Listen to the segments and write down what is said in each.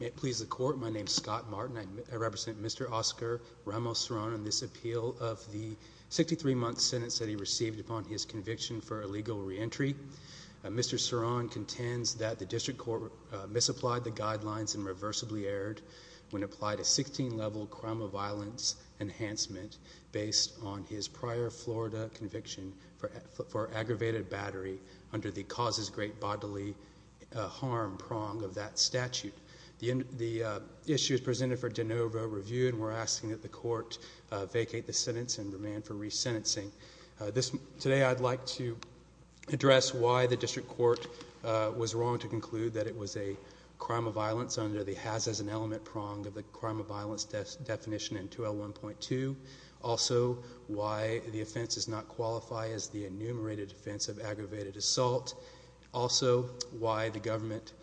May it please the court, my name is Scott Martin. I represent Mr. Oscar Ramos Ceron on this appeal of the 63-month sentence that he received upon his conviction for illegal re-entry. Mr. Ceron contends that the district court misapplied the guidelines and reversibly erred when applied a 16-level crime of violence enhancement based on his prior Florida conviction for aggravated battery under the causes great bodily harm prong of that statute. The issue is presented for de novo review and we're asking that the court vacate the sentence and remand for resentencing. Today I'd like to address why the district court was wrong to conclude that it was a crime of violence under the has as an element prong of the crime of violence definition in 2L1.2. Also why the offense does not qualify as the enumerated offense of aggravated assault. Also why the government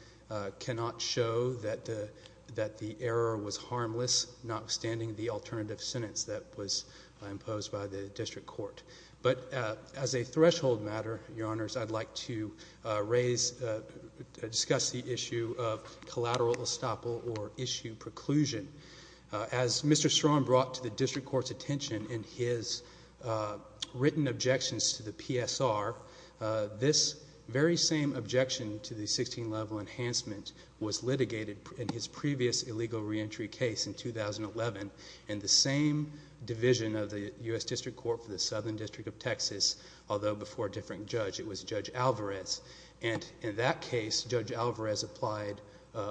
cannot show that the error was harmless notwithstanding the alternative sentence that was imposed by the district court. But as a threshold matter, your honors, I'd like to discuss the issue of collateral estoppel or issue preclusion. As Mr. Ceron brought to the district court's attention in his written objections to the PSR, this very same objection to the 16-level enhancement was litigated in his previous illegal reentry case in 2011 and the same division of the US District Court for the Southern District of Texas, although before a different judge, it was Judge Alvarez. And in that case, Judge Alvarez applied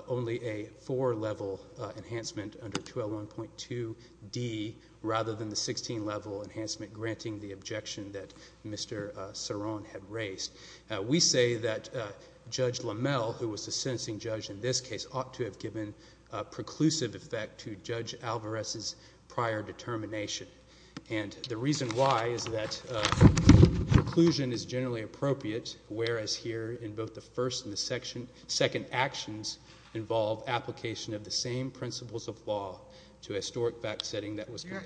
only a four-level enhancement under 2L1.2D rather than the one that Mr. Ceron had raised. We say that Judge LaMelle, who was the sentencing judge in this case, ought to have given a preclusive effect to Judge Alvarez's prior determination. And the reason why is that preclusion is generally appropriate, whereas here in both the first and the second actions involve application of the same principles of law to a historic fact What's your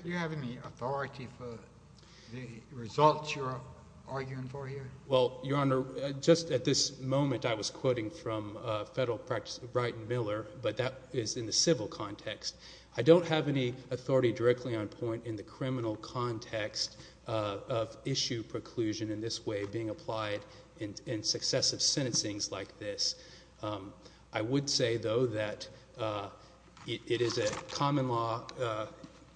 argument for here? Well, your honor, just at this moment I was quoting from federal practice of Brighton Miller, but that is in the civil context. I don't have any authority directly on point in the criminal context of issue preclusion in this way being applied in successive sentencings like this. I would say though that it is a common law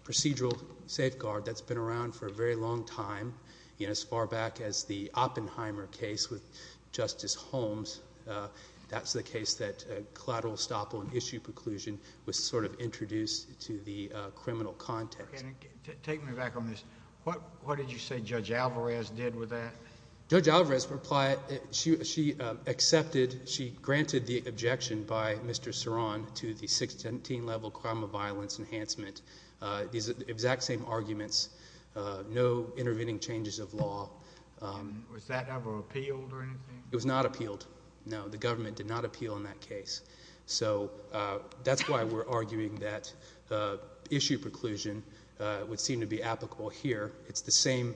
procedural safeguard that's been around for a very long time, you know, as far back as the Oppenheimer case with Justice Holmes. That's the case that collateral stop on issue preclusion was sort of introduced to the criminal context. Take me back on this. What did you say Judge Alvarez did with that? Judge Alvarez accepted, she granted the objection by Mr. Ceron to the 617-level crime of violence enhancement. These exact same arguments, no intervening changes of law. Was that ever appealed or anything? It was not appealed. No, the government did not appeal in that case. So that's why we're arguing that issue preclusion would seem to be applicable here. It's the same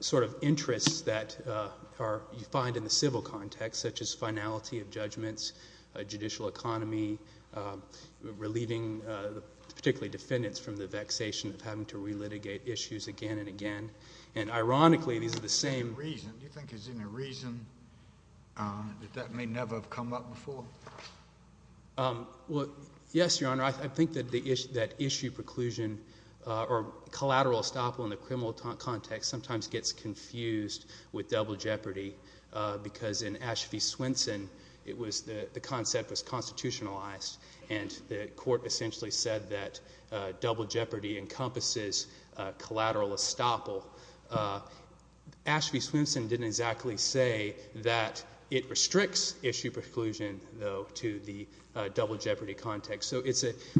sort of interests that you find in the civil context such as finality of judgments, judicial economy, relieving particularly defendants from the And, ironically, these are the same... Do you think there's any reason that that may never have come up before? Well, yes, Your Honor. I think that issue preclusion or collateral estoppel in the criminal context sometimes gets confused with double jeopardy because in Ashby Swenson, the concept was constitutionalized and the court essentially said that double jeopardy encompasses collateral estoppel. Ashby Swenson didn't exactly say that it restricts issue preclusion, though, to the double jeopardy context. So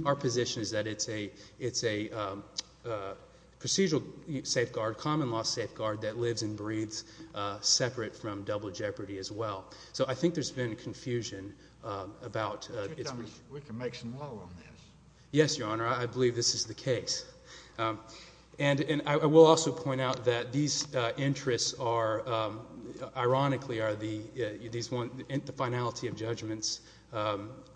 our position is that it's a procedural safeguard, common law safeguard, that lives and breathes separate from double jeopardy as well. So I think there's been confusion about... We can make some law on this. Yes, Your Honor. I believe this is the case. And I will also point out that these interests are, ironically, are the finality of judgments.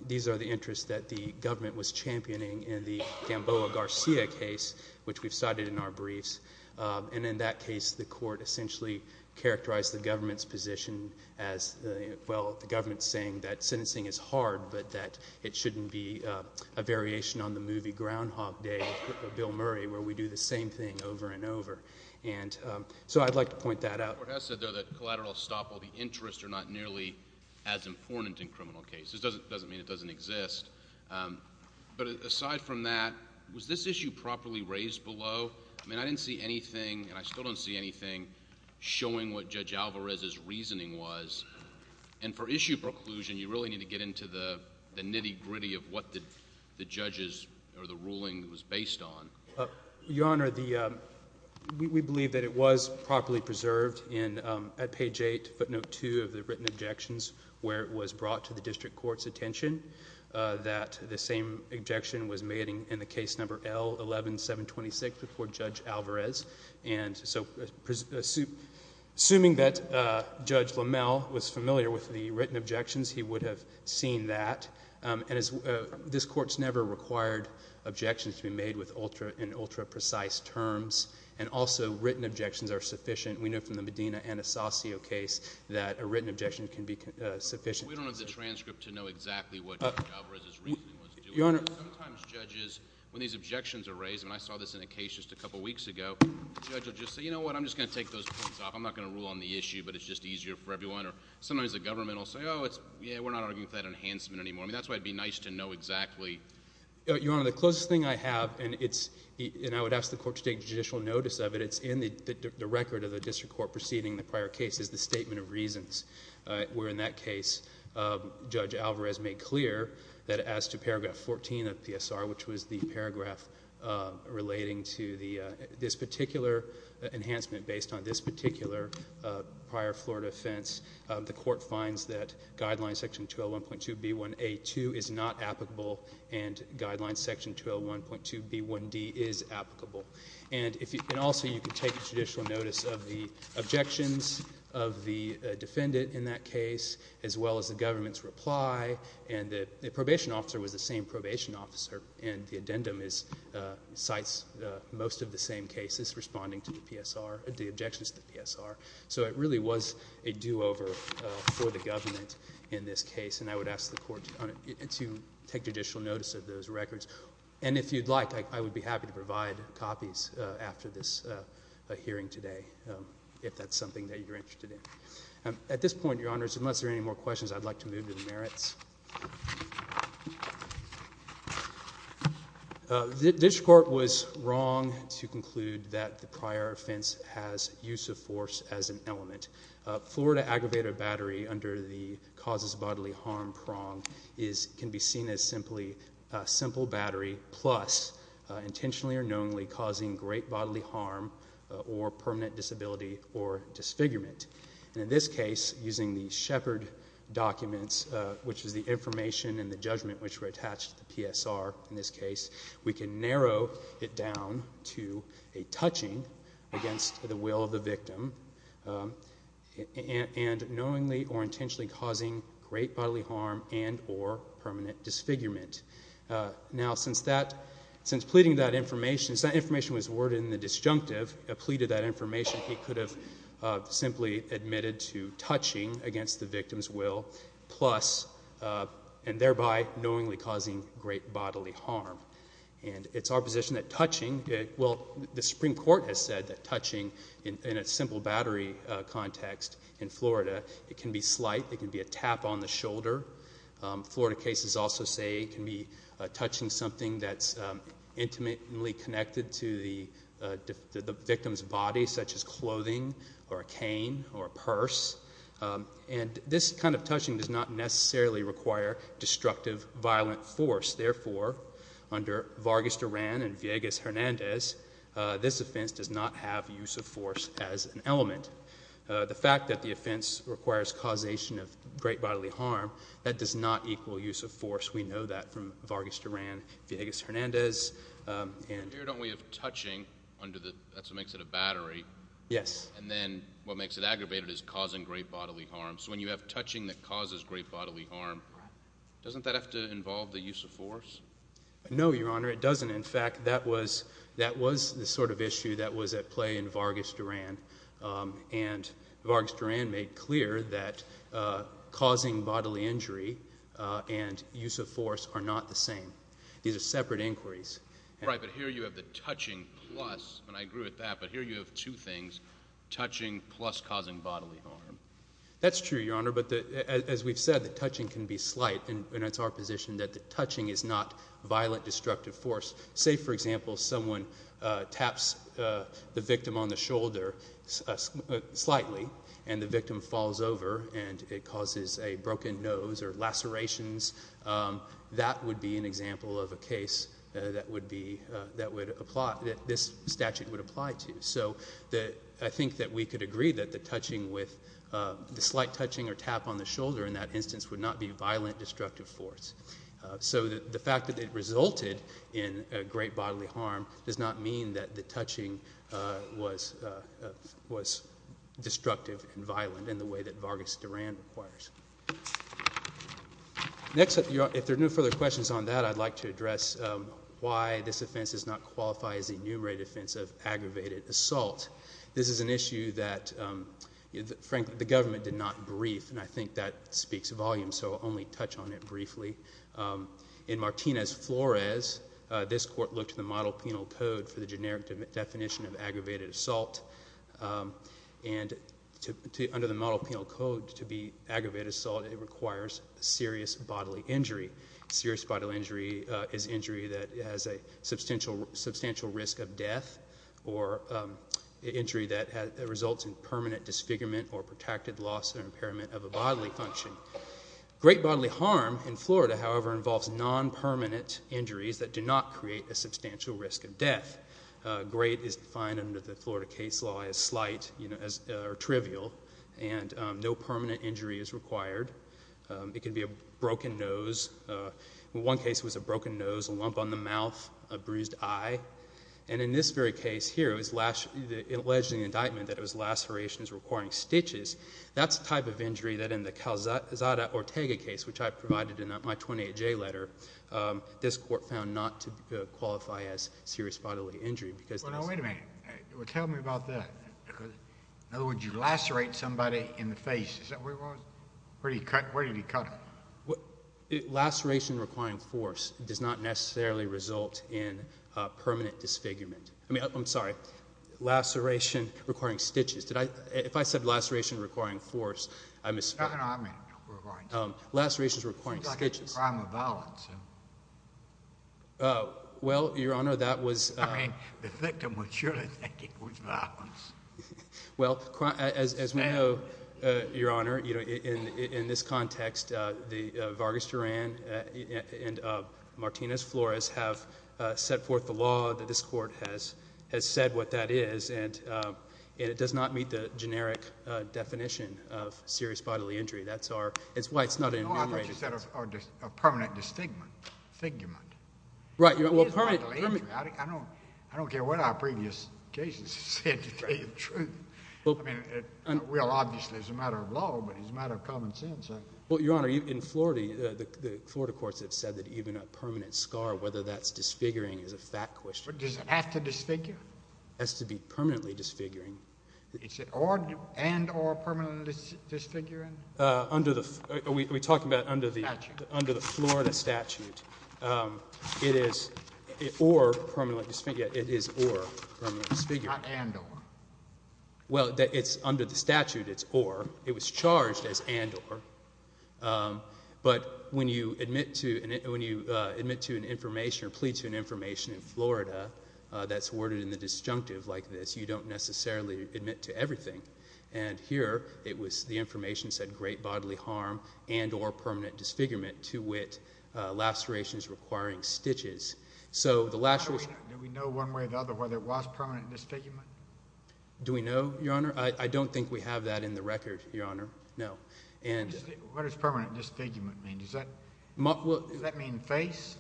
These are the interests that the government was championing in the Gamboa Garcia case, which we've cited in our briefs. And in that case, the court essentially characterized the government's position as, well, the government saying that it shouldn't be a variation on the movie Groundhog Day with Bill Murray, where we do the same thing over and over. And so I'd like to point that out. The court has said, though, that collateral estoppel, the interests are not nearly as important in criminal cases. It doesn't mean it doesn't exist. But aside from that, was this issue properly raised below? I mean, I didn't see anything, and I still don't see anything, showing what Judge Alvarez's reasoning was. And for issue preclusion, you really need to get to the nitty gritty of what the judge's or the ruling was based on. Your Honor, we believe that it was properly preserved at page 8, footnote 2 of the written objections, where it was brought to the district court's attention that the same objection was made in the case number L11726 before Judge Alvarez. And so, assuming that Judge LaMalle was familiar with the case, we've seen that. This court's never required objections to be made with ultra and ultra-precise terms. And also, written objections are sufficient. We know from the Medina-Anasazio case that a written objection can be sufficient. We don't have the transcript to know exactly what Judge Alvarez's reasoning was. Your Honor. Sometimes judges, when these objections are raised, and I saw this in a case just a couple weeks ago, the judge will just say, you know what, I'm just going to take those points off. I'm not going to rule on the issue, but it's just easier for everyone. Or sometimes the government will say, oh, yeah, we're not arguing with that enhancement anymore. I mean, that's why it would be nice to know exactly. Your Honor, the closest thing I have, and it's, and I would ask the court to take judicial notice of it, it's in the record of the district court proceeding the prior cases, the statement of reasons. Where in that case, Judge Alvarez made clear that as to paragraph 14 of PSR, which was the paragraph relating to the, this particular enhancement based on this case, section 201.2B1A2 is not applicable, and guideline section 201.2B1D is applicable. And if you, and also you can take judicial notice of the objections of the defendant in that case, as well as the government's reply, and the, the probation officer was the same probation officer, and the addendum is, cites most of the same cases responding to the PSR, the objections to the PSR. So it really was a do-over for the government in this case, and I would ask the court to, to take judicial notice of those records. And if you'd like, I, I would be happy to provide copies after this hearing today, if that's something that you're interested in. At this point, Your Honors, unless there are any more questions, I'd like to move to the merits. This court was wrong to conclude that the prior offense has use of force as an intentionally or knowingly causing great bodily harm prong is, can be seen as simply a simple battery plus intentionally or knowingly causing great bodily harm or permanent disability or disfigurement. And in this case, using the Shepard documents, which is the information and the judgment which were attached to the PSR in this case, we can narrow it down to a touching against the will of the victim and knowingly or intentionally causing great bodily harm and or permanent disfigurement. Now, since that, since pleading that information, since that information was worded in the disjunctive, pleaded that information, he could have simply admitted to touching against the victim's will plus, and thereby knowingly causing great bodily harm. And it's our opinion, the Supreme Court has said that touching in a simple battery context in Florida, it can be slight, it can be a tap on the shoulder. Florida cases also say it can be touching something that's intimately connected to the victim's body, such as clothing or a cane or a purse. And this kind of touching does not necessarily require destructive, violent force. Therefore, under Vargas Duran and Villegas-Hernandez, this offense does not have use of force as an element. The fact that the offense requires causation of great bodily harm, that does not equal use of force. We know that from Vargas Duran, Villegas-Hernandez, and— Here, don't we have touching under the—that's what makes it a battery? Yes. And then what makes it aggravated is causing great bodily harm. So when you have touching that causes great bodily harm, doesn't that have to involve the use of force? No, Your Honor, it doesn't. In fact, that was the sort of issue that was at play in Vargas Duran. And Vargas Duran made clear that causing bodily injury and use of force are not the same. These are separate inquiries. Right, but here you have the touching plus—and I agree with that—but here you have two things, touching plus causing bodily harm. That's true, Your Honor, but as we've said, the touching can be slight, and it's our position that the touching is not violent, destructive force. Say, for example, someone taps the victim on the shoulder slightly and the victim falls over and it causes a broken nose or lacerations, that would be an example of a case that would be—that would apply—that this statute would apply to. So I think that we could agree that the touching with—the slight touching or tap on the shoulder in that instance would not be violent, destructive force. So the fact that it resulted in a great bodily harm does not mean that the touching was destructive and violent in the way that Vargas Duran requires. Next, if there are no further questions on that, I'd like to address why this offense does not qualify as the enumerated offense of aggravated assault. This is an issue that, frankly, the government did not comment on it briefly. In Martinez-Flores, this court looked at the model penal code for the generic definition of aggravated assault, and under the model penal code, to be aggravated assault, it requires serious bodily injury. Serious bodily injury is injury that has a substantial risk of death or injury that results in permanent disfigurement or protected loss or impairment of a bodily function. Great bodily harm in Florida, however, involves non-permanent injuries that do not create a substantial risk of death. Great is defined under the Florida case law as slight, you know, as—or trivial, and no permanent injury is required. It can be a broken nose. One case was a broken nose, a lump on the mouth, a bruised eye, and in this very case here, it was alleged in the indictment that it was lacerations requiring stitches. That's the type of injury that in the Calzada-Ortega case, which I provided in my 28J letter, this court found not to qualify as serious bodily injury because— Well, now, wait a minute. Tell me about that. In other words, you lacerate somebody in the face. Is that where he was? Where did he cut him? Laceration requiring force does not necessarily result in permanent disfigurement. I mean, I'm sorry. Laceration requiring stitches. Did I—if I said laceration requiring force, I misspoke. No, no, no. I meant requiring stitches. Lacerations requiring stitches. Seems like a crime of violence. Well, Your Honor, that was— I mean, the victim would surely think it was violence. Well, as we know, Your Honor, in this context, Vargas Duran and Martinez Flores have set forth the law. This court has said what that is, and it does not meet the generic definition of serious bodily injury. That's why it's not enumerated. No, I thought you said a permanent disfigurement. Right. Well, permanent— I don't care what our previous cases have said to tell you the truth. I mean, it will, obviously, as a matter of law, but as a matter of common sense, I— Well, Your Honor, in Florida, the Florida courts have said that even a matter of whether that's disfiguring is a fact question. But does it have to disfigure? It has to be permanently disfiguring. Is it and or permanently disfiguring? Under the—are we talking about under the— Statute. Under the Florida statute, it is or permanently—yeah, it is or permanently disfiguring. Not and or. Well, it's—under the statute, it's or. It was charged as and or. But when you admit to—when you admit to an information or plead to an information in Florida that's worded in the disjunctive like this, you don't necessarily admit to everything. And here, it was—the information said great bodily harm and or permanent disfigurement to wit lacerations requiring stitches. So the lacerations— Do we know one way or another whether it was permanent disfigurement? Do we know, Your Honor? I don't think we have that in the record, Your Honor. No. What does permanent disfigurement mean? Does that—does that mean face?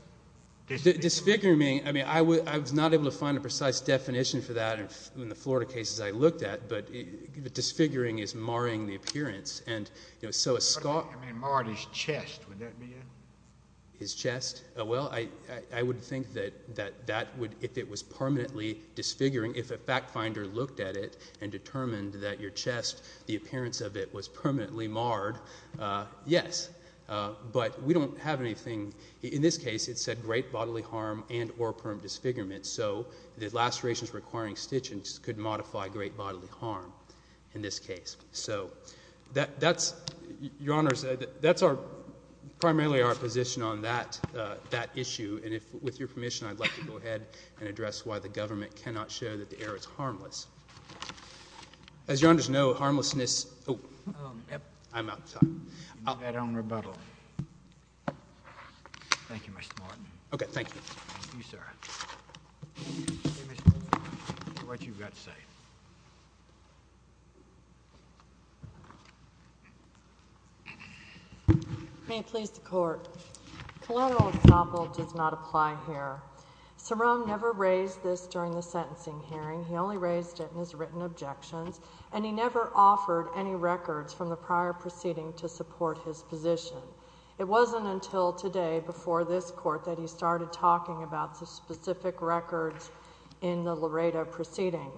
Disfigurement—I mean, I was not able to find a precise definition for that in the Florida cases I looked at. But disfiguring is marring the appearance. And, you know, so a skull— I mean marred his chest. Would that be it? His chest? Well, I would think that that would—if it was permanently disfiguring, if a fact finder looked at it and determined that your chest, the appearance of it was permanently marred, yes. But we don't have anything— In this case, it said great bodily harm and or permanent disfigurement. So the lacerations requiring stitches could modify great bodily harm in this case. So that's—Your Honor, that's primarily our position on that issue. And if—with your permission, I'd like to go ahead and address why the government cannot show that the error is harmless. As Your Honors know, harmlessness— Oh, yep. I'm out. Sorry. You need your own rebuttal. Thank you, Mr. Martin. Okay. Thank you. Thank you, sir. What you've got to say. May it please the Court. Collateral example does not apply here. Sarone never raised this during the sentencing hearing. He only raised it in his written objections. And he never offered any records from the prior proceeding to support his position. It wasn't until today, before this Court, that he started talking about the specific records in the Laredo proceeding.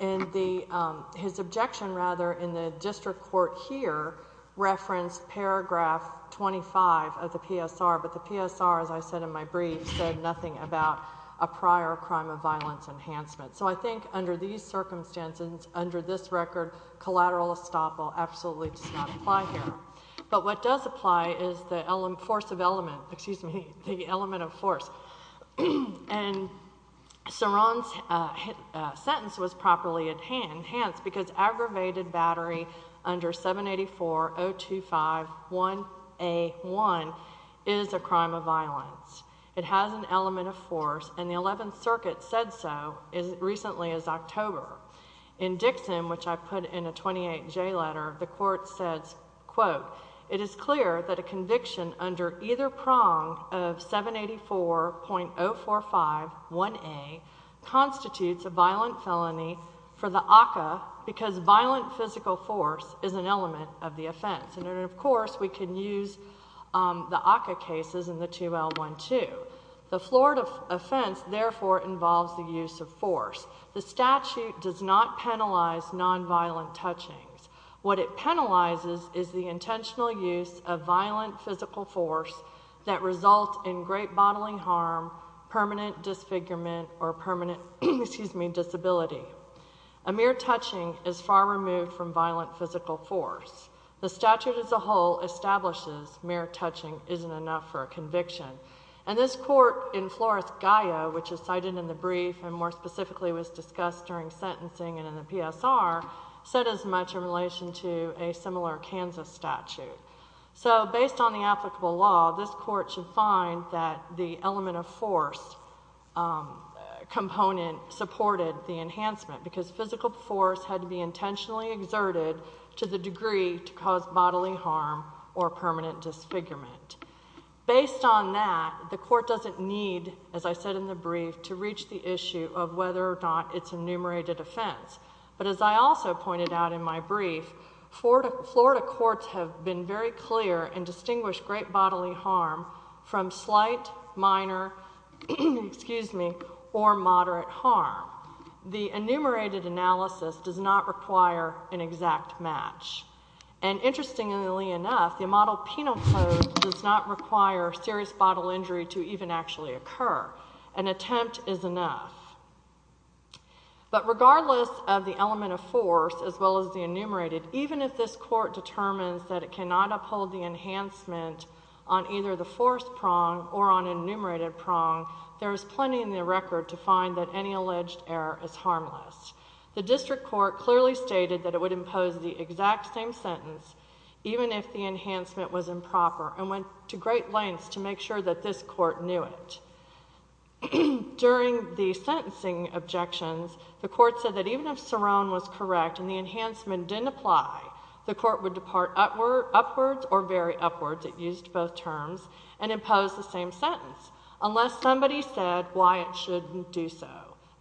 And the—his objection, rather, in the district court here, referenced paragraph 25 of the PSR. But the PSR, as I said in my brief, said nothing about a prior crime of violence enhancement. So I think under these circumstances, under this record, collateral estoppel absolutely does not apply here. But what does apply is the force of element—excuse me, the element of force. And Sarone's sentence was properly enhanced because aggravated battery under 784.025.1.A.1 is a crime of violence. It has an element of force. And the Eleventh Circuit said so as recently as October. In Dixon, which I put in a 28J letter, the Court says, quote, It is clear that a conviction under either prong of 784.045.1.A constitutes a violent felony for the ACCA because violent physical force is an element of the offense. And, of course, we can use the ACCA cases in the 2L12. The Florida offense, therefore, involves the use of force. The statute does not penalize nonviolent touchings. What it penalizes is the intentional use of violent physical force that results in great bodily harm, permanent disfigurement, or permanent—excuse me—disability. A mere touching is far removed from violent physical force. The statute as a whole establishes mere touching isn't enough for a conviction. And this court in Flores-Gallo, which is cited in the brief and more specifically was discussed during sentencing and in the PSR, said as much in relation to a similar Kansas statute. So based on the applicable law, this court should find that the element of force component supported the enhancement because physical force had to be intentionally exerted to the degree to cause bodily harm or permanent disfigurement. Based on that, the court doesn't need, as I said in the brief, to reach the issue of whether or not it's a enumerated offense. But as I also pointed out in my brief, Florida courts have been very clear and distinguished great bodily harm from slight, minor—excuse me—or moderate harm. The enumerated analysis does not require an exact match. And interestingly enough, the model penal code does not require serious bodily injury to even actually occur. An attempt is enough. But regardless of the element of force as well as the enumerated, even if this court determines that it cannot uphold the enhancement on either the force prong or on an enumerated prong, there is plenty in the record to find that any alleged error is harmless. The district court clearly stated that it would impose the exact same sentence even if the enhancement was improper and went to great lengths to make sure that this court knew it. During the sentencing objections, the court said that even if Cerrone was correct and the enhancement didn't apply, the court would depart upwards or very upwards— it used both terms—and impose the same sentence unless somebody said why it shouldn't do so.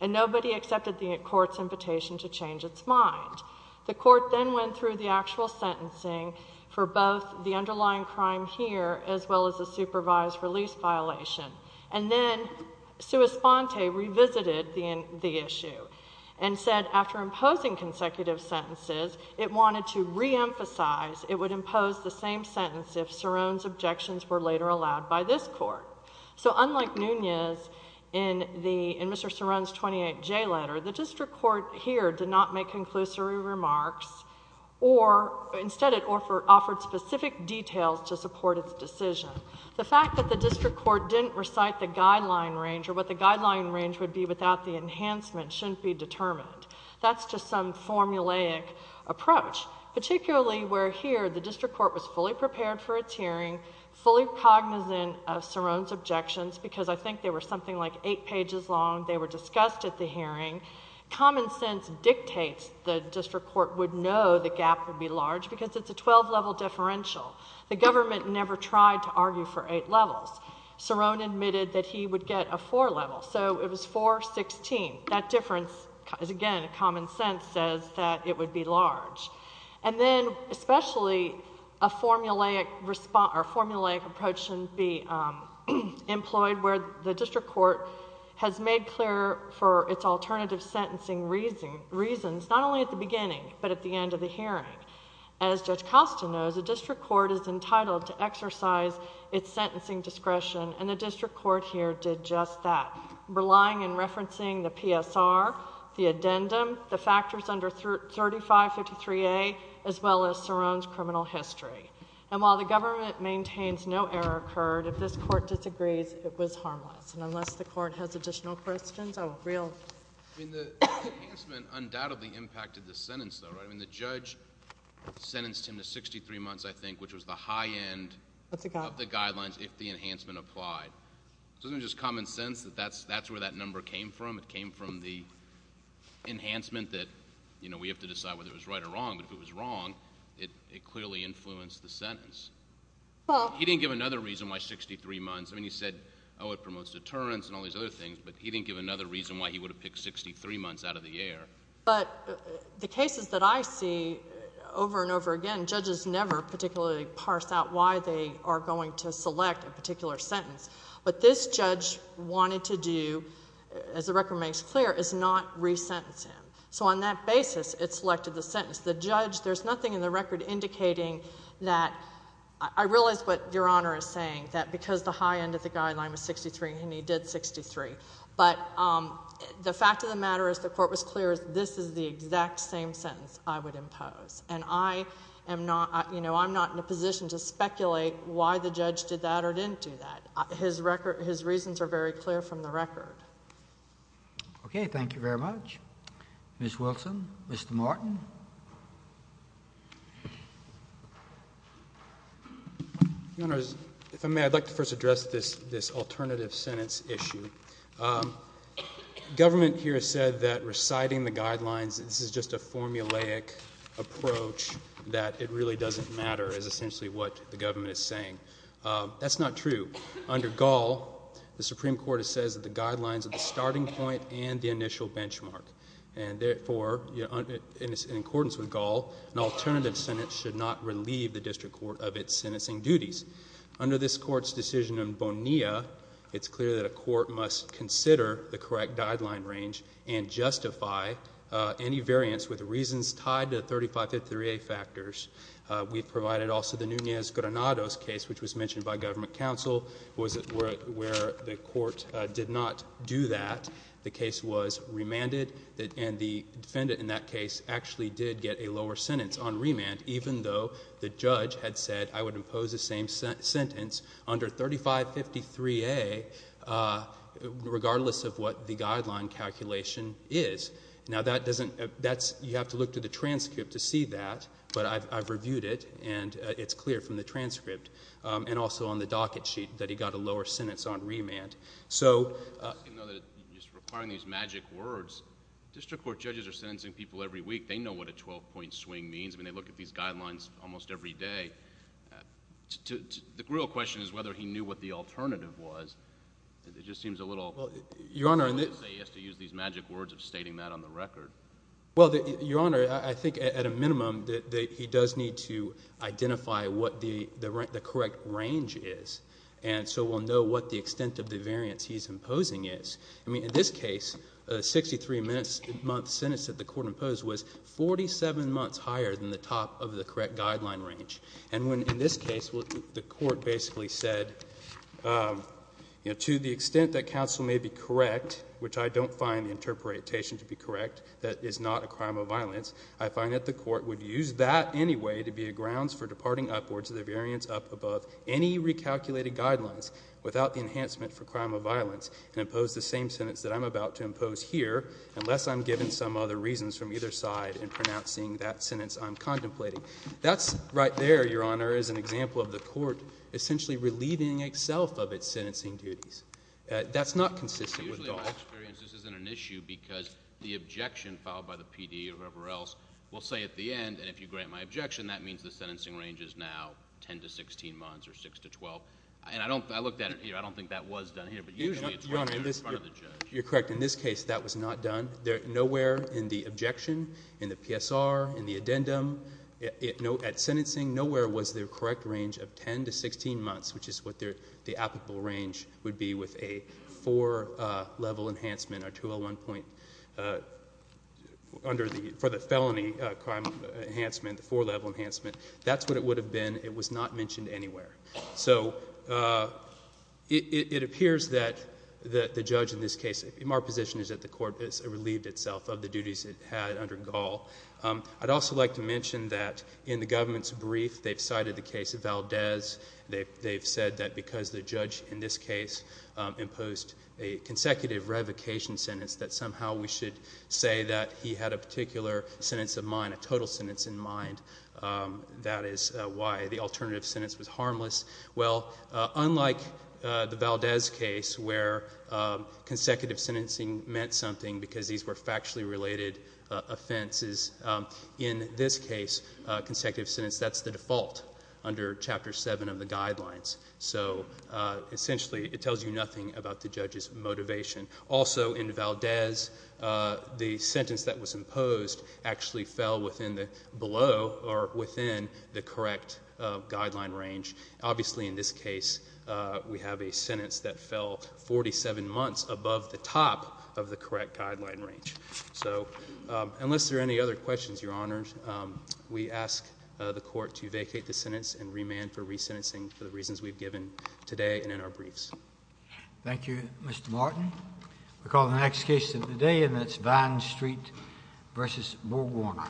And nobody accepted the court's invitation to change its mind. The court then went through the actual sentencing for both the underlying crime here as well as the supervised release violation. And then sua sponte revisited the issue and said after imposing consecutive sentences, it wanted to reemphasize it would impose the same sentence if Cerrone's objections were later allowed by this court. So unlike Nunez in Mr. Cerrone's 28J letter, the district court here did not make conclusory remarks or instead it offered specific details to support its decision. The fact that the district court didn't recite the guideline range or what the guideline range would be without the enhancement shouldn't be determined. That's just some formulaic approach, particularly where here the district court was fully prepared for its hearing, fully cognizant of Cerrone's objections because I think they were something like 8 pages long, they were discussed at the hearing. Common sense dictates the district court would know the gap would be large because it's a 12-level differential. The government never tried to argue for 8 levels. Cerrone admitted that he would get a 4 level, so it was 4-16. That difference is, again, common sense says that it would be large. And then especially a formulaic approach shouldn't be employed where the district court has made clear for its alternative sentencing reasons not only at the beginning but at the end of the hearing. As Judge Costa knows, a district court is entitled to exercise its sentencing discretion and the district court here did just that. Relying in referencing the PSR, the addendum, the factors under 3553A, as well as Cerrone's criminal history. And while the government maintains no error occurred, if this court disagrees, it was harmless. And unless the court has additional questions, I will... I mean, the enhancement undoubtedly impacted the sentence, though, right? I mean, the judge sentenced him to 63 months, I think, which was the high end of the guidelines if the enhancement applied. So isn't it just common sense that that's where that number came from? It came from the enhancement that, you know, we have to decide whether it was right or wrong. But if it was wrong, it clearly influenced the sentence. He didn't give another reason why 63 months. I mean, he said, oh, it promotes deterrence and all these other things, but he didn't give another reason why he would have picked 63 months out of the air. But the cases that I see over and over again, judges never particularly parse out why they are going to select a particular sentence. But this judge wanted to do, as the record makes clear, is not re-sentence him. So on that basis, it selected the sentence. The judge... there's nothing in the record indicating that... I realize what Your Honour is saying, that because the high end of the guideline was 63, and he did 63. But the fact of the matter is, the court was clear, this is the exact same sentence I would impose. And I am not... you know, I'm not in a position to speculate why the judge did that or didn't do that. His reasons are very clear from the record. Okay, thank you very much. Ms. Wilson, Mr. Martin. Your Honour, if I may, I'd like to first address this alternative sentence issue. Government here has said that reciting the guidelines, this is just a formulaic approach, that it really doesn't matter is essentially what the government is saying. That's not true. Under Gall, the Supreme Court says that the guidelines are the starting point and the initial benchmark. And therefore, in accordance with Gall, an alternative sentence should not relieve the district court of its sentencing duties. Under this court's decision in Bonilla, it's clear that a court must consider the correct guideline range and justify any variance with reasons tied to 3553A factors. We've provided also the Nunez-Granados case, which was mentioned by government counsel, where the court did not do that. The case was remanded, and the defendant in that case actually did get a lower sentence on remand, even though the judge had said I would impose the same sentence under 3553A, regardless of what the guideline calculation is. Now, that doesn't... You have to look to the transcript to see that, but I've reviewed it, and it's clear from the transcript and also on the docket sheet that he got a lower sentence on remand. So... Just requiring these magic words. District court judges are sentencing people every week. They know what a 12-point swing means. I mean, they look at these guidelines almost every day. The real question is whether he knew what the alternative was. It just seems a little... Your Honor... He has to use these magic words of stating that on the record. Well, Your Honor, I think at a minimum that he does need to identify what the correct range is. And so we'll know what the extent of the variance he's imposing is. I mean, in this case, a 63-month sentence that the court imposed was 47 months higher than the top of the correct guideline range. And when, in this case, the court basically said, you know, to the extent that counsel may be correct, which I don't find the interpretation to be correct, that is not a crime of violence, I find that the court would use that anyway to be a grounds for departing upwards to the variance up above any recalculated guidelines without the enhancement for crime of violence and impose the same sentence that I'm about to impose here unless I'm given some other reasons from either side in pronouncing that sentence I'm contemplating. That's right there, Your Honor, is an example of the court essentially relieving itself of its sentencing duties. That's not consistent with law. Usually in my experience, this isn't an issue because the objection filed by the PD or whoever else will say at the end, and if you grant my objection, that means the sentencing range is now 10 to 16 months or 6 to 12. And I don't, I looked at it here, I don't think that was done here, but usually it's done in front of the judge. Your Honor, you're correct. In this case, that was not done. Nowhere in the objection, in the PSR, in the addendum, at sentencing, nowhere was the correct range of 10 to 16 months, which is what the applicable range would be with a 4-level enhancement or 201 point under the, for the felony crime enhancement, the 4-level enhancement. That's what it would have been. It was not mentioned anywhere. So, it appears that the judge in this case, in my position, is that the court has relieved itself of the duties it had under Gaul. I'd also like to mention that in the government's brief, they've cited the case of Valdez. They've said that because the judge in this case imposed a consecutive revocation sentence, that somehow we should say that he had a particular sentence of mine, a total sentence in mind. That is why the alternative sentence was harmless. Well, unlike the Valdez case where consecutive sentencing meant something because these were factually related offenses, in this case, consecutive sentence, that's the default under Chapter 7 of the guidelines. So, essentially, it tells you nothing about the judge's motivation. Also, in Valdez, the sentence that was imposed actually fell within the below, or within the correct guideline range. Obviously, in this case, we have a sentence that fell 47 months above the top of the correct guideline range. So, unless there are any other questions, Your Honor, we ask the Court to vacate the sentence and remand for resentencing for the reasons we've given today and in our briefs. Thank you, Mr. Martin. We call the next case of the day and that's Vine Street versus Bo Warner.